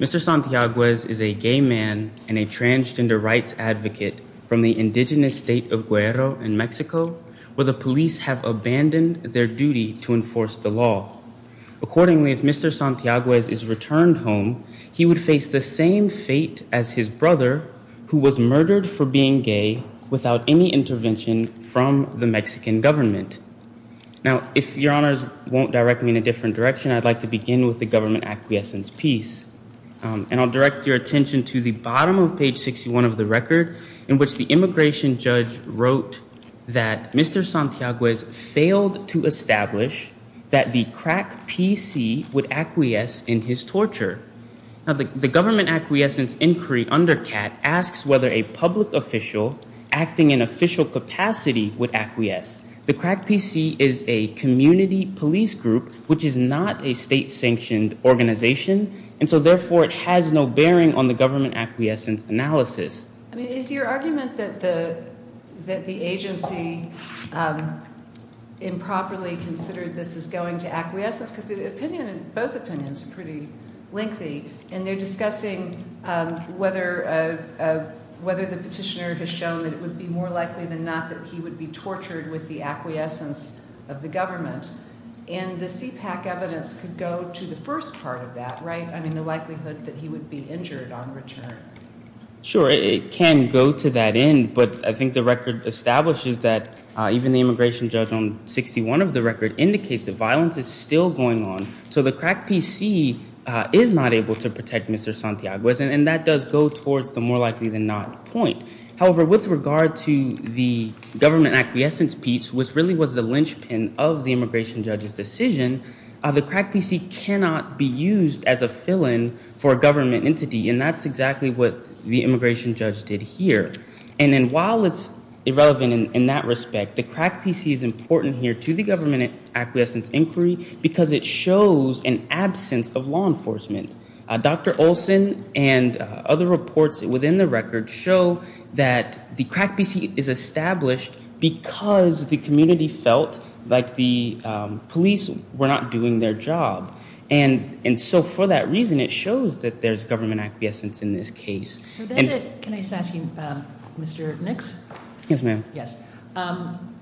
Mr. Santiago is a gay man and a transgender rights advocate from the indigenous state of Guero in Mexico, where the police have abandoned their duty to enforce the law. Accordingly, if Mr. Santiago is returned home, he would face the same fate as his brother, who was murdered for being gay without any intervention from the Mexican government. Now, if your honors won't direct me in a different direction, I'd like to begin with the government acquiescence piece. And I'll direct your attention to the bottom of page 61 of the record in which the immigration judge wrote that Mr. Santiago has failed to establish that the crack PC would acquiesce in his torture. Now, the government acquiescence inquiry under CAT asks whether a public official acting in official capacity would acquiesce. The crack PC is a community police group, which is not a state-sanctioned organization. And so, therefore, it has no bearing on the government acquiescence analysis. I mean, is your argument that the agency improperly considered this as going to acquiescence? Because the opinion, both opinions are pretty lengthy. And they're discussing whether the petitioner has shown that it would be more likely than not that he would be tortured with the acquiescence of the government. And the CPAC evidence could go to the first part of that, right? I mean, the likelihood that he would be injured on return. Sure, it can go to that end. But I think the record establishes that even the immigration judge on 61 of the record indicates that violence is still going on. So the crack PC is not able to protect Mr. Santiago. And that does go towards the more likely than not point. However, with regard to the government acquiescence piece, which really was the linchpin of the immigration judge's decision, the crack PC cannot be used as a fill-in for a government entity. And that's exactly what the immigration judge did here. And then while it's irrelevant in that respect, the crack PC is important here to the government acquiescence inquiry because it shows an absence of law enforcement. Dr. Olson and other reports within the record show that the crack PC is established because the community felt like the police were not doing their job. And so for that reason, it shows that there's government acquiescence in this case. So that's it. Can I just ask you, Mr. Nix? Yes, ma'am. Yes.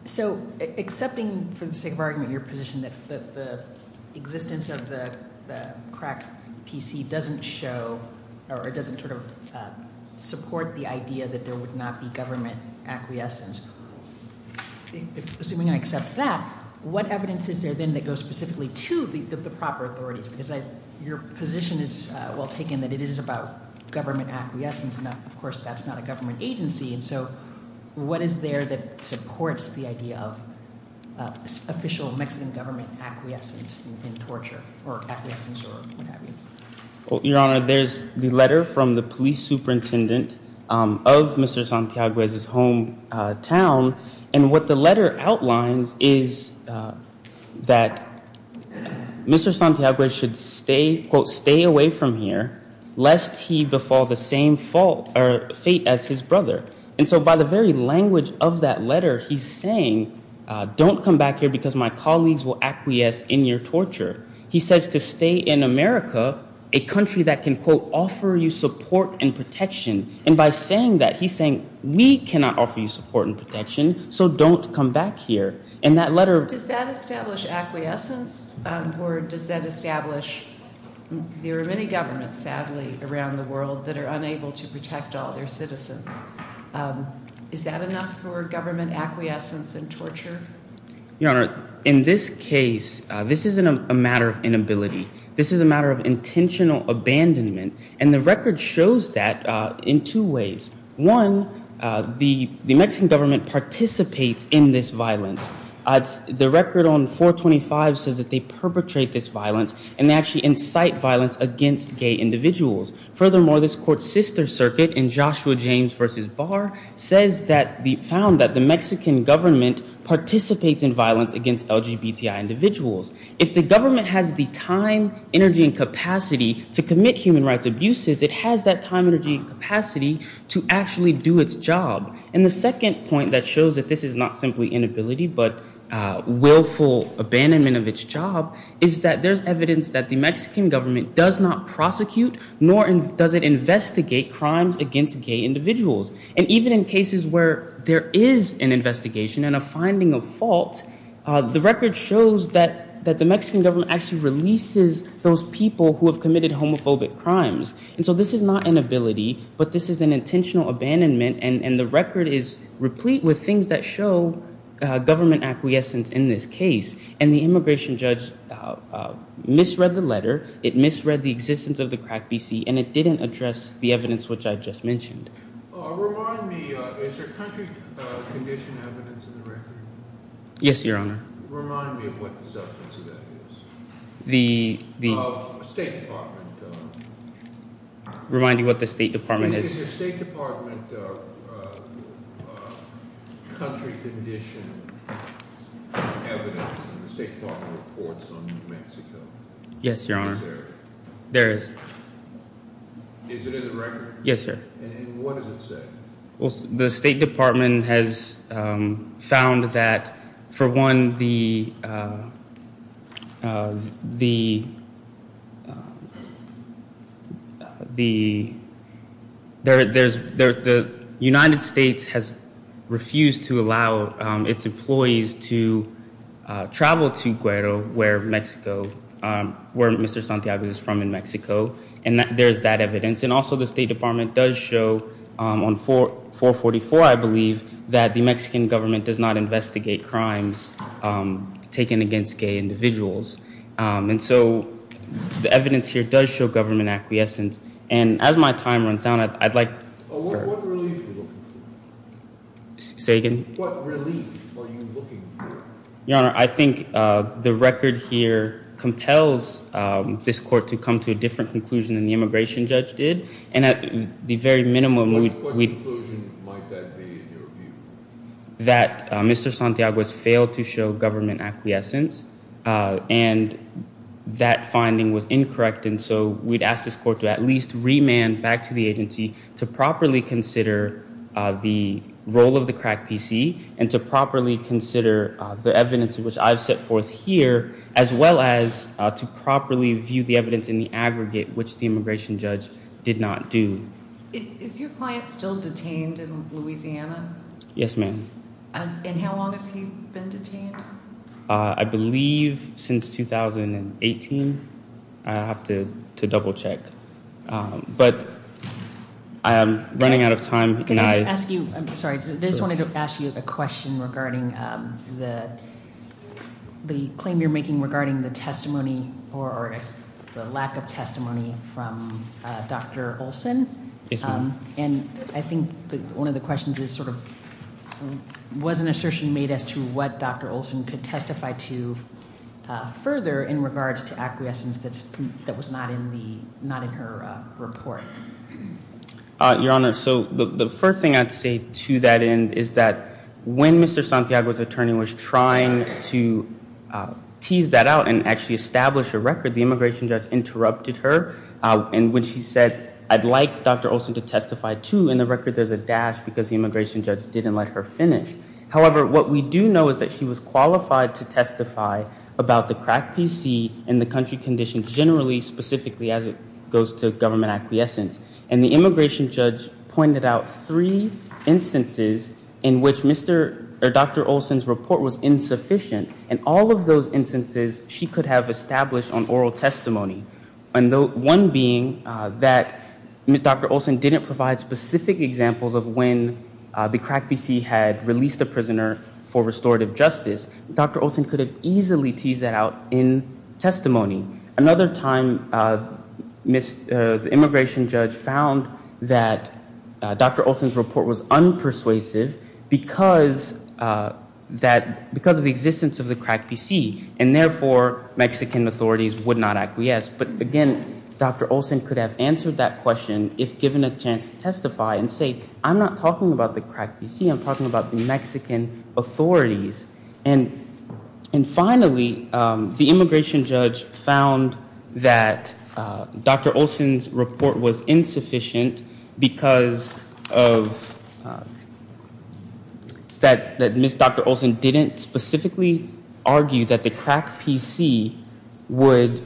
So accepting for the sake of argument your position that the existence of the crack PC doesn't show or doesn't sort of support the idea that there would not be government acquiescence, assuming I accept that, what evidence is there then that goes specifically to the proper authorities? Because your position is well taken that it is about government acquiescence. And of course, that's not a government agency. And so what is there that supports the idea of official Mexican government acquiescence and torture or acquiescence or what have you? Well, Your Honor, there's the letter from the police superintendent of Mr. Santiago's hometown. And what the letter outlines is that Mr. Santiago should stay, quote, stay away from here lest he befall the same fate as his brother. And so by the very language of that letter, he's saying, don't come back here because my colleagues will acquiesce in your torture. He says to stay in America, a country that can, quote, offer you support and protection. And by saying that, he's saying, we cannot offer you support and protection. So don't come back here. And that letter. Does that establish acquiescence or does that establish, there are many governments, sadly, around the world that are unable to protect all their citizens. Is that enough for government acquiescence and torture? Your Honor, in this case, this isn't a matter of inability. This is a matter of intentional abandonment. And the record shows that in two ways. One, the Mexican government participates in this violence. The record on 425 says that they perpetrate this violence and they actually incite violence against gay individuals. Furthermore, this court's sister circuit in Joshua James v. Barr says that the, found that the Mexican government participates in violence against LGBTI individuals. If the government has the time, energy, and capacity to commit human rights abuses, it has that time, energy, and capacity to actually do its job. And the second point that shows that this is not simply inability, but willful abandonment of its job, is that there's evidence that the Mexican government does not prosecute, nor does it investigate crimes against gay individuals. And even in cases where there is an investigation and a finding of fault, the record shows that the Mexican government actually releases those people who have committed homophobic crimes. And so this is not inability, but this is an intentional abandonment. And the record is replete with things that show government acquiescence in this case. And the immigration judge misread the letter. It misread the existence of the crack PC. And it didn't address the evidence which I just mentioned. Remind me, is there country condition evidence in the record? Yes, your honor. Remind me of what the substance of that is. The State Department. Remind me what the State Department is. Is there State Department country condition evidence in the State Department reports on New Mexico? Yes, your honor. There is. Is it in the record? Yes, sir. And what does it say? Well, the State Department has found that, for one, the United States has refused to allow its employees to travel to Guero, where Mr. Santiago is from in Mexico. And there's that evidence. And also, the State Department does show on 444, I believe, that the Mexican government does not investigate crimes taken against gay individuals. And so, the evidence here does show government acquiescence. And as my time runs out, I'd like. What relief are you looking for? Say again? What relief are you looking for? Your honor, I think the record here compels this court to come to a different conclusion than the immigration judge did. And at the very minimum. What conclusion might that be, in your view? That Mr. Santiago has failed to show government acquiescence. And that finding was incorrect. And so, we'd ask this court to at least remand back to the agency to properly consider the role of the crack PC and to properly consider the evidence in which I've set forth here, as well as to properly view the evidence in the aggregate, which the immigration judge did not do. Is your client still detained in Louisiana? Yes, ma'am. And how long has he been detained? I believe since 2018. I'd have to double check. But I am running out of time. Can I ask you? I'm sorry. I just wanted to ask you a question regarding the claim you're making regarding the testimony or the lack of testimony from Dr. Olson. Yes, ma'am. And I think one of the questions is sort of, was an assertion made as to what Dr. Olson could testify to further in regards to acquiescence that was not in her report? Your Honor, so the first thing I'd say to that end is that when Mr. Santiago's attorney was trying to tease that out and actually establish a record, the immigration judge interrupted her. And when she said, I'd like Dr. Olson to testify too, in the record there's a dash because the immigration judge didn't let her finish. However, what we do know is that she was qualified to testify about the crack PC and the country condition generally, specifically as it goes to government acquiescence. And the immigration judge pointed out three instances in which Mr. or Dr. Olson's report was insufficient. And all of those instances she could have established on oral testimony. And one being that Dr. Olson didn't provide specific examples of when the crack PC had released a prisoner for restorative justice. Dr. Olson could have easily teased that out in testimony. Another time the immigration judge found that Dr. Olson's report was unpersuasive because of the existence of the crack PC. And therefore, Mexican authorities would not acquiesce. But again, Dr. Olson could have answered that question if given a chance to testify and say I'm not talking about the crack PC, I'm talking about the Mexican authorities. And finally, the immigration judge found that Dr. Olson's report was insufficient because of that Ms. Dr. Olson didn't specifically argue that the crack PC would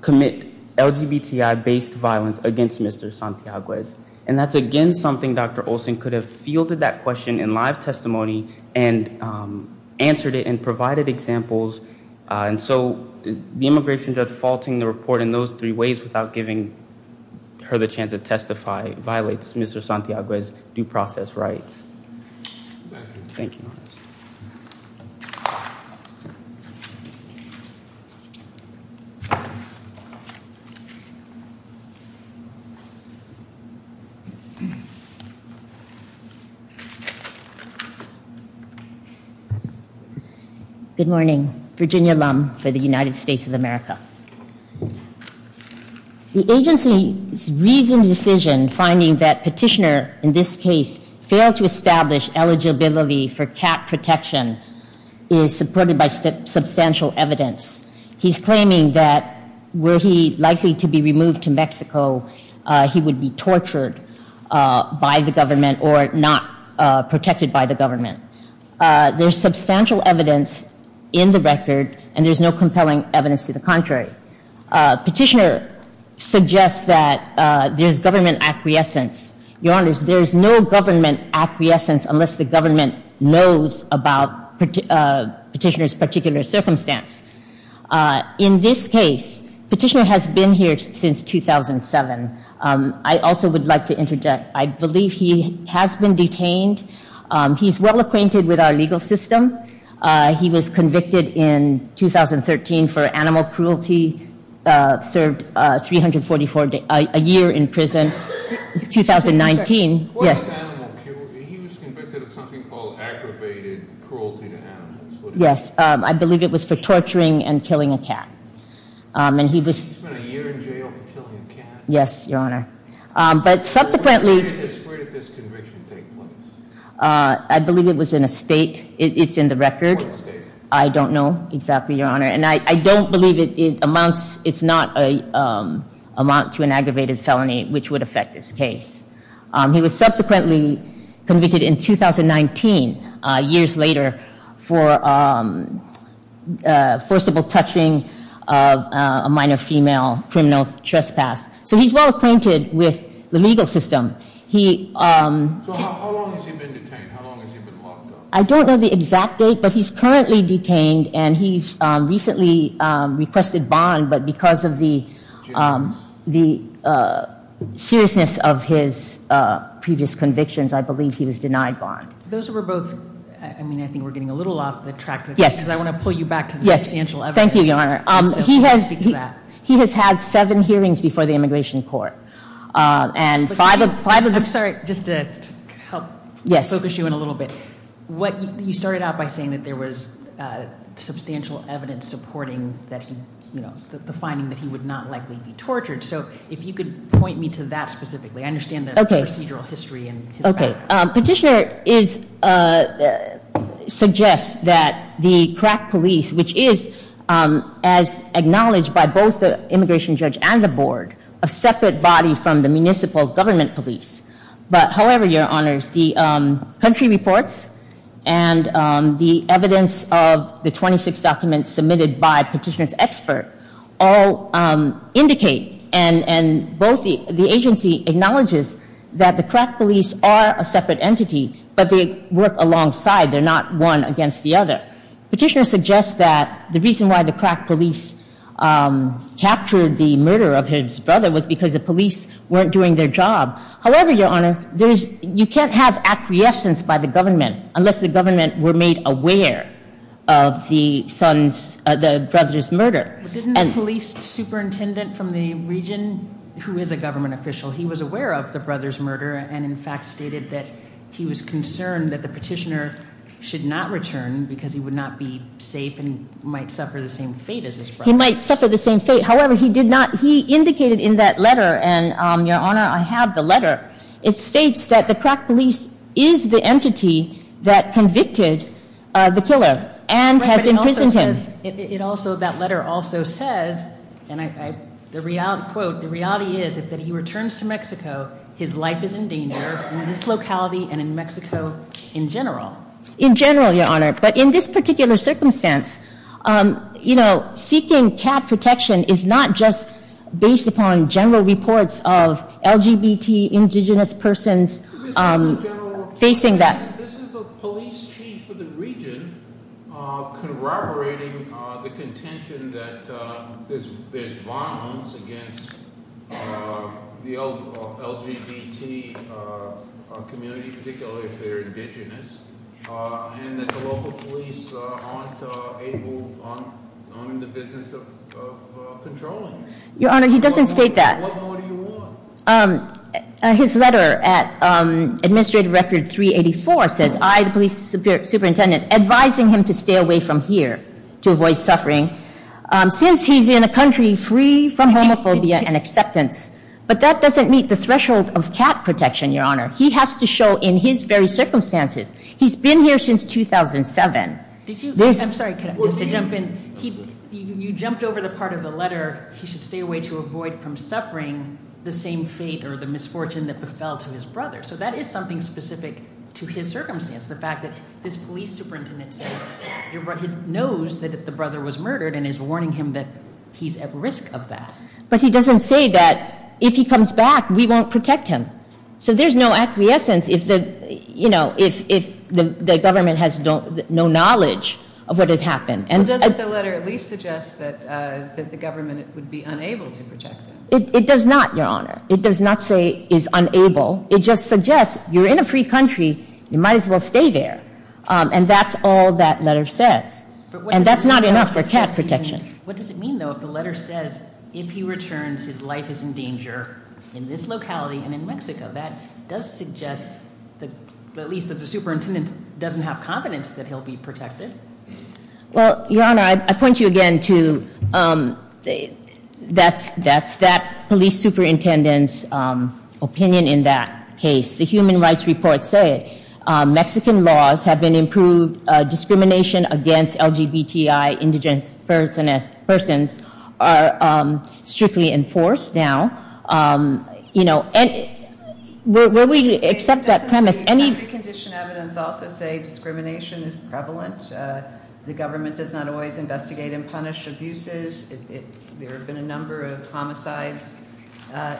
commit LGBTI-based violence against Mr. Santiago. And that's again something Dr. Olson could have fielded that question in live testimony and answered it and provided examples. And so the immigration judge faulting the report in those three ways without giving her the chance to testify, violates Mr. Santiago's due process rights. Thank you. Thank you. Good morning. Virginia Lum for the United States of America. The agency's recent decision finding that petitioner in this case failed to establish eligibility for cat protection is supported by substantial evidence. He's claiming that were he likely to be removed to Mexico, he would be tortured by the government or not protected by the government. There's substantial evidence in the record and there's no compelling evidence to the contrary. Petitioner suggests that there's government acquiescence. Your honors, there's no government acquiescence unless the government knows about petitioner's particular circumstance. In this case, petitioner has been here since 2007. I also would like to interject. I believe he has been detained. He's well acquainted with our legal system. He was convicted in 2013 for animal cruelty, served 344 days, a year in prison. 2019, yes. What was animal cruelty? He was convicted of something called aggravated cruelty to animals. What is that? Yes. I believe it was for torturing and killing a cat. And he was. He spent a year in jail for killing a cat. Yes, your honor. But subsequently. Where did this conviction take place? I believe it was in a state. It's in the record. What state? I don't know exactly, your honor. And I don't believe it amounts, it's not a, amount to an aggravated felony which would affect this case. He was subsequently convicted in 2019, years later, for first of all, touching a minor female, criminal trespass. So he's well acquainted with the legal system. He. So how long has he been detained? How long has he been locked up? I don't know the exact date, but he's currently detained. And he's recently requested bond, but because of the seriousness of his previous convictions, I believe he was denied bond. Those were both, I mean, I think we're getting a little off the track. Yes. Because I want to pull you back to the substantial evidence. Thank you, your honor. He has had seven hearings before the Immigration Court. And five of the. I'm sorry, just to help focus you in a little bit. What you started out by saying that there was substantial evidence supporting that he, you know, the finding that he would not likely be tortured. So if you could point me to that specifically. I understand the procedural history and. Okay. Petitioner is, suggests that the crack police, which is as acknowledged by both the immigration judge and the board, a separate body from the municipal government police. But however, your honors, the country reports and the evidence of the 26 documents submitted by petitioner's expert all indicate and both the agency acknowledges that the crack police are a separate entity, but they work alongside. They're not one against the other. Petitioner suggests that the reason why the crack police captured the murder of his brother was because the police weren't doing their job. However, your honor, there's, you can't have acquiescence by the government unless the government were made aware of the son's, the brother's murder. Didn't the police superintendent from the region, who is a government official, he was aware of the brother's murder and in fact stated that he was concerned that the petitioner should not return because he would not be safe and might suffer the same fate as his brother. He might suffer the same fate. However, he did not, he indicated in that letter, and your honor, I have the letter, it states that the crack police is the entity that convicted the killer and has imprisoned him. It also, that letter also says, and I, the reality, quote, the reality is that if he returns to Mexico, his life is in danger in this locality and in Mexico in general. In general, your honor, but in this particular circumstance, you know, seeking cat protection is not just based upon general reports of LGBT indigenous persons facing that. This is the police chief of the region corroborating the contention that there's violence against the LGBT community, particularly if they're indigenous, and that the local police aren't able, aren't in the business of controlling. Your honor, he doesn't state that. What more do you want? His letter at administrative record 384 says, I, the police superintendent, advising him to stay away from here to avoid suffering since he's in a country free from homophobia and acceptance, but that doesn't meet the threshold of cat protection, your honor, he has to show in his very circumstances, he's been here since 2007. Did you, I'm sorry, just to jump in, he, you jumped over the part of the letter he should stay away to avoid from suffering the same fate or the misfortune that befell to his brother. So that is something specific to his circumstance, the fact that this police superintendent says, he knows that the brother was murdered and is warning him that he's at risk of that. But he doesn't say that if he comes back, we won't protect him. So there's no acquiescence if the, you know, if the government has no knowledge of what had happened. And. Doesn't the letter at least suggest that the government would be unable to protect him? It does not, your honor. It does not say is unable, it just suggests, you're in a free country, you might as well stay there. And that's all that letter says. And that's not enough for cat protection. What does it mean, though, if the letter says, if he returns, his life is in danger in this locality and in Mexico, that does suggest that at least that the superintendent doesn't have confidence that he'll be protected. Well, your honor, I point you again to, that's that police superintendent's opinion in that case. The human rights reports say Mexican laws have been improved, discrimination against LGBTI indigenous persons are strictly enforced now. You know, and will we accept that premise? Doesn't the country condition evidence also say discrimination is prevalent? The government does not always investigate and punish abuses. There have been a number of homicides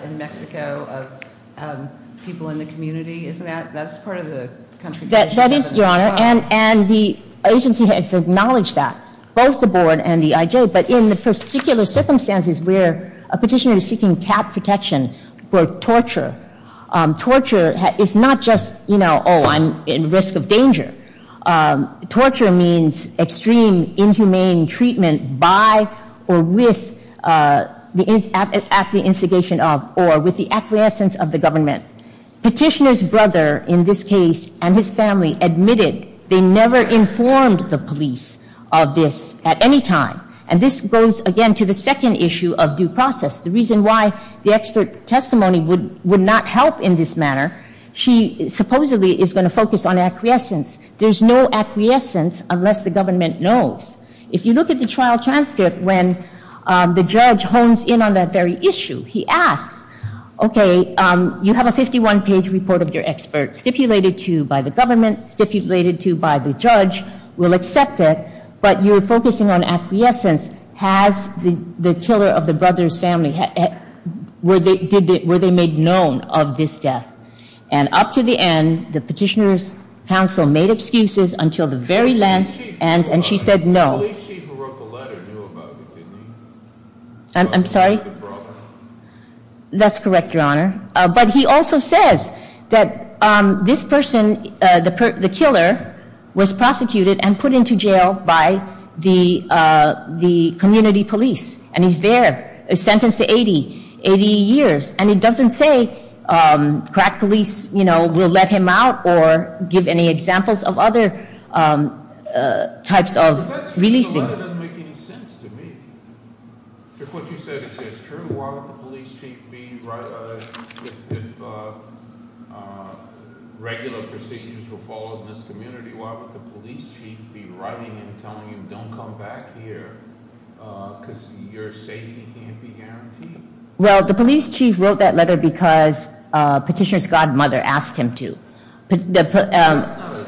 in Mexico of people in the community. Isn't that, that's part of the country condition evidence as well. That is, your honor, and the agency has acknowledged that, both the board and the IJ. But in the particular circumstances where a petitioner is seeking cat protection for torture, torture is not just, you know, oh, I'm in risk of danger. Torture means extreme inhumane treatment by or with the, at the instigation of, or with the acquiescence of the government. Petitioner's brother, in this case, and his family admitted they never informed the police of this at any time. And this goes, again, to the second issue of due process. The reason why the expert testimony would, would not help in this manner, she supposedly is going to focus on acquiescence. There's no acquiescence unless the government knows. If you look at the trial transcript when the judge hones in on that very issue, he asks, okay, you have a 51-page report of your expert stipulated to, by the government, stipulated to, by the judge. We'll accept it, but you're focusing on acquiescence. Has the, the killer of the brother's family, were they, did they, were they made known of this death? And up to the end, the petitioner's counsel made excuses until the very last, and, and she said no. The police chief who wrote the letter knew about it, didn't he? I'm, I'm sorry? The brother. That's correct, your honor. But he also says that this person, the, the killer was prosecuted and put into jail by the, the community police. And he's there, sentenced to 80, 80 years. And he doesn't say crack police, you know, will let him out or give any examples of other types of releasing. That doesn't make any sense to me. If what you said is true, why would the police chief be, if regular procedures were followed in this community, why would the police chief be writing him, telling him, don't come back here? because your safety can't be guaranteed. Well, the police chief wrote that letter because petitioner's godmother asked him to. The, the,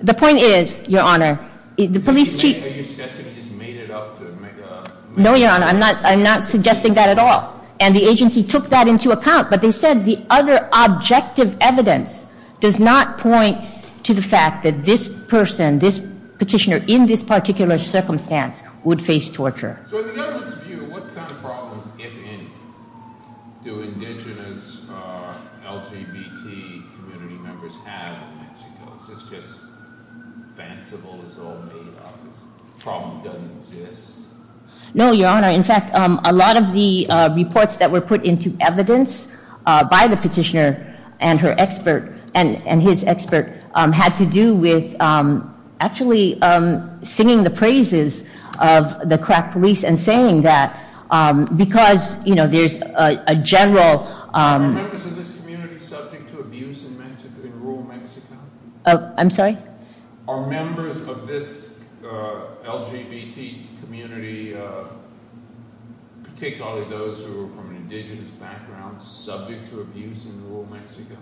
the point is, your honor, the police chief. Are you suggesting he just made it up to make a. No, your honor, I'm not, I'm not suggesting that at all. And the agency took that into account, but they said the other objective evidence does not point to the fact that this person, this petitioner in this particular circumstance would face torture. So in the government's view, what kind of problems, if any, do indigenous LGBT community members have in Mexico? Is this just fanciful, it's all made up, the problem doesn't exist? No, your honor, in fact a lot of the reports that were put into evidence by the petitioner and her expert, and, and his expert had to do with actually singing the praises of the crack police and saying that, because, you know, there's a general. Are there members of this community subject to abuse in Mexico, in rural Mexico? I'm sorry? Are members of this LGBT community, particularly those who are from an indigenous background, subject to abuse in rural Mexico?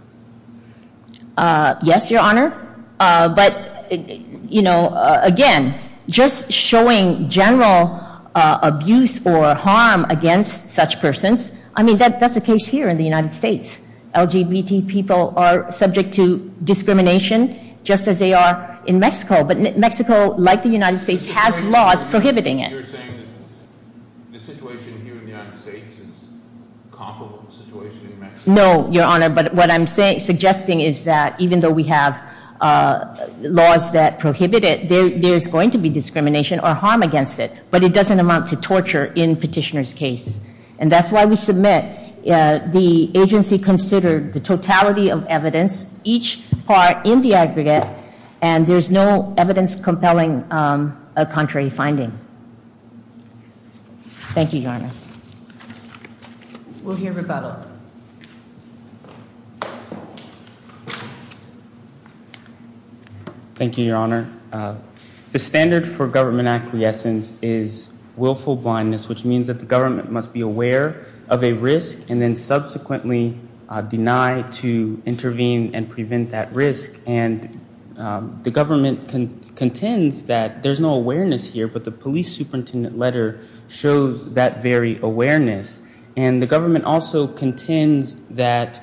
Yes, your honor. But, you know, again, just showing general abuse or harm against such persons, I mean, that's the case here in the United States. LGBT people are subject to discrimination, just as they are in Mexico. But Mexico, like the United States, has laws prohibiting it. You're saying that the situation here in the United States is comparable to the situation in Mexico? No, your honor, but what I'm suggesting is that even though we have laws that prohibit it, there's going to be discrimination or harm against it, but it doesn't amount to torture in petitioner's case. And that's why we submit, the agency considered the totality of evidence, each part in the aggregate, and there's no evidence compelling a contrary finding. Thank you, Your Honor. Yes. We'll hear rebuttal. Thank you, Your Honor. The standard for government acquiescence is willful blindness, which means that the government must be aware of a risk and then subsequently deny to intervene and prevent that risk. And the government contends that there's no awareness here, but the police superintendent letter shows that very awareness. And the government also contends that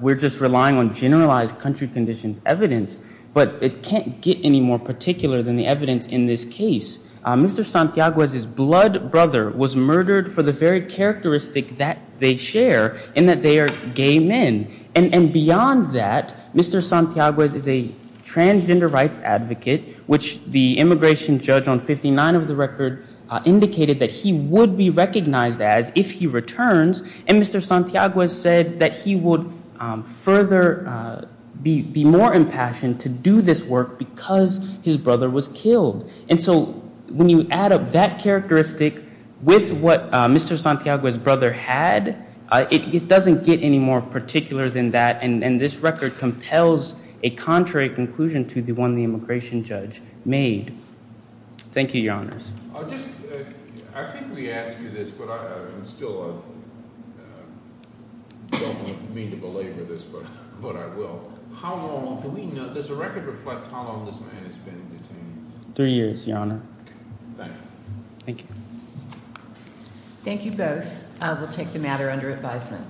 we're just relying on generalized country conditions evidence, but it can't get any more particular than the evidence in this case. Mr. Santiago's blood brother was murdered for the very characteristic that they share, and that they are gay men. And beyond that, Mr. Santiago is a transgender rights advocate, which the immigration judge on 59 of the record indicated that he would be recognized as if he returns. And Mr. Santiago has said that he would be more impassioned to do this work because his brother was killed. And so when you add up that characteristic with what Mr. Santiago's brother had, it doesn't get any more particular than that. And this record compels a contrary conclusion to the one the immigration judge made. Thank you, your honors. I think we asked you this, but I'm still, I don't mean to belabor this, but I will. How long, does the record reflect how long this man has been detained? Three years, your honor. Thank you. Thank you. Thank you both. We'll take the matter under advisement.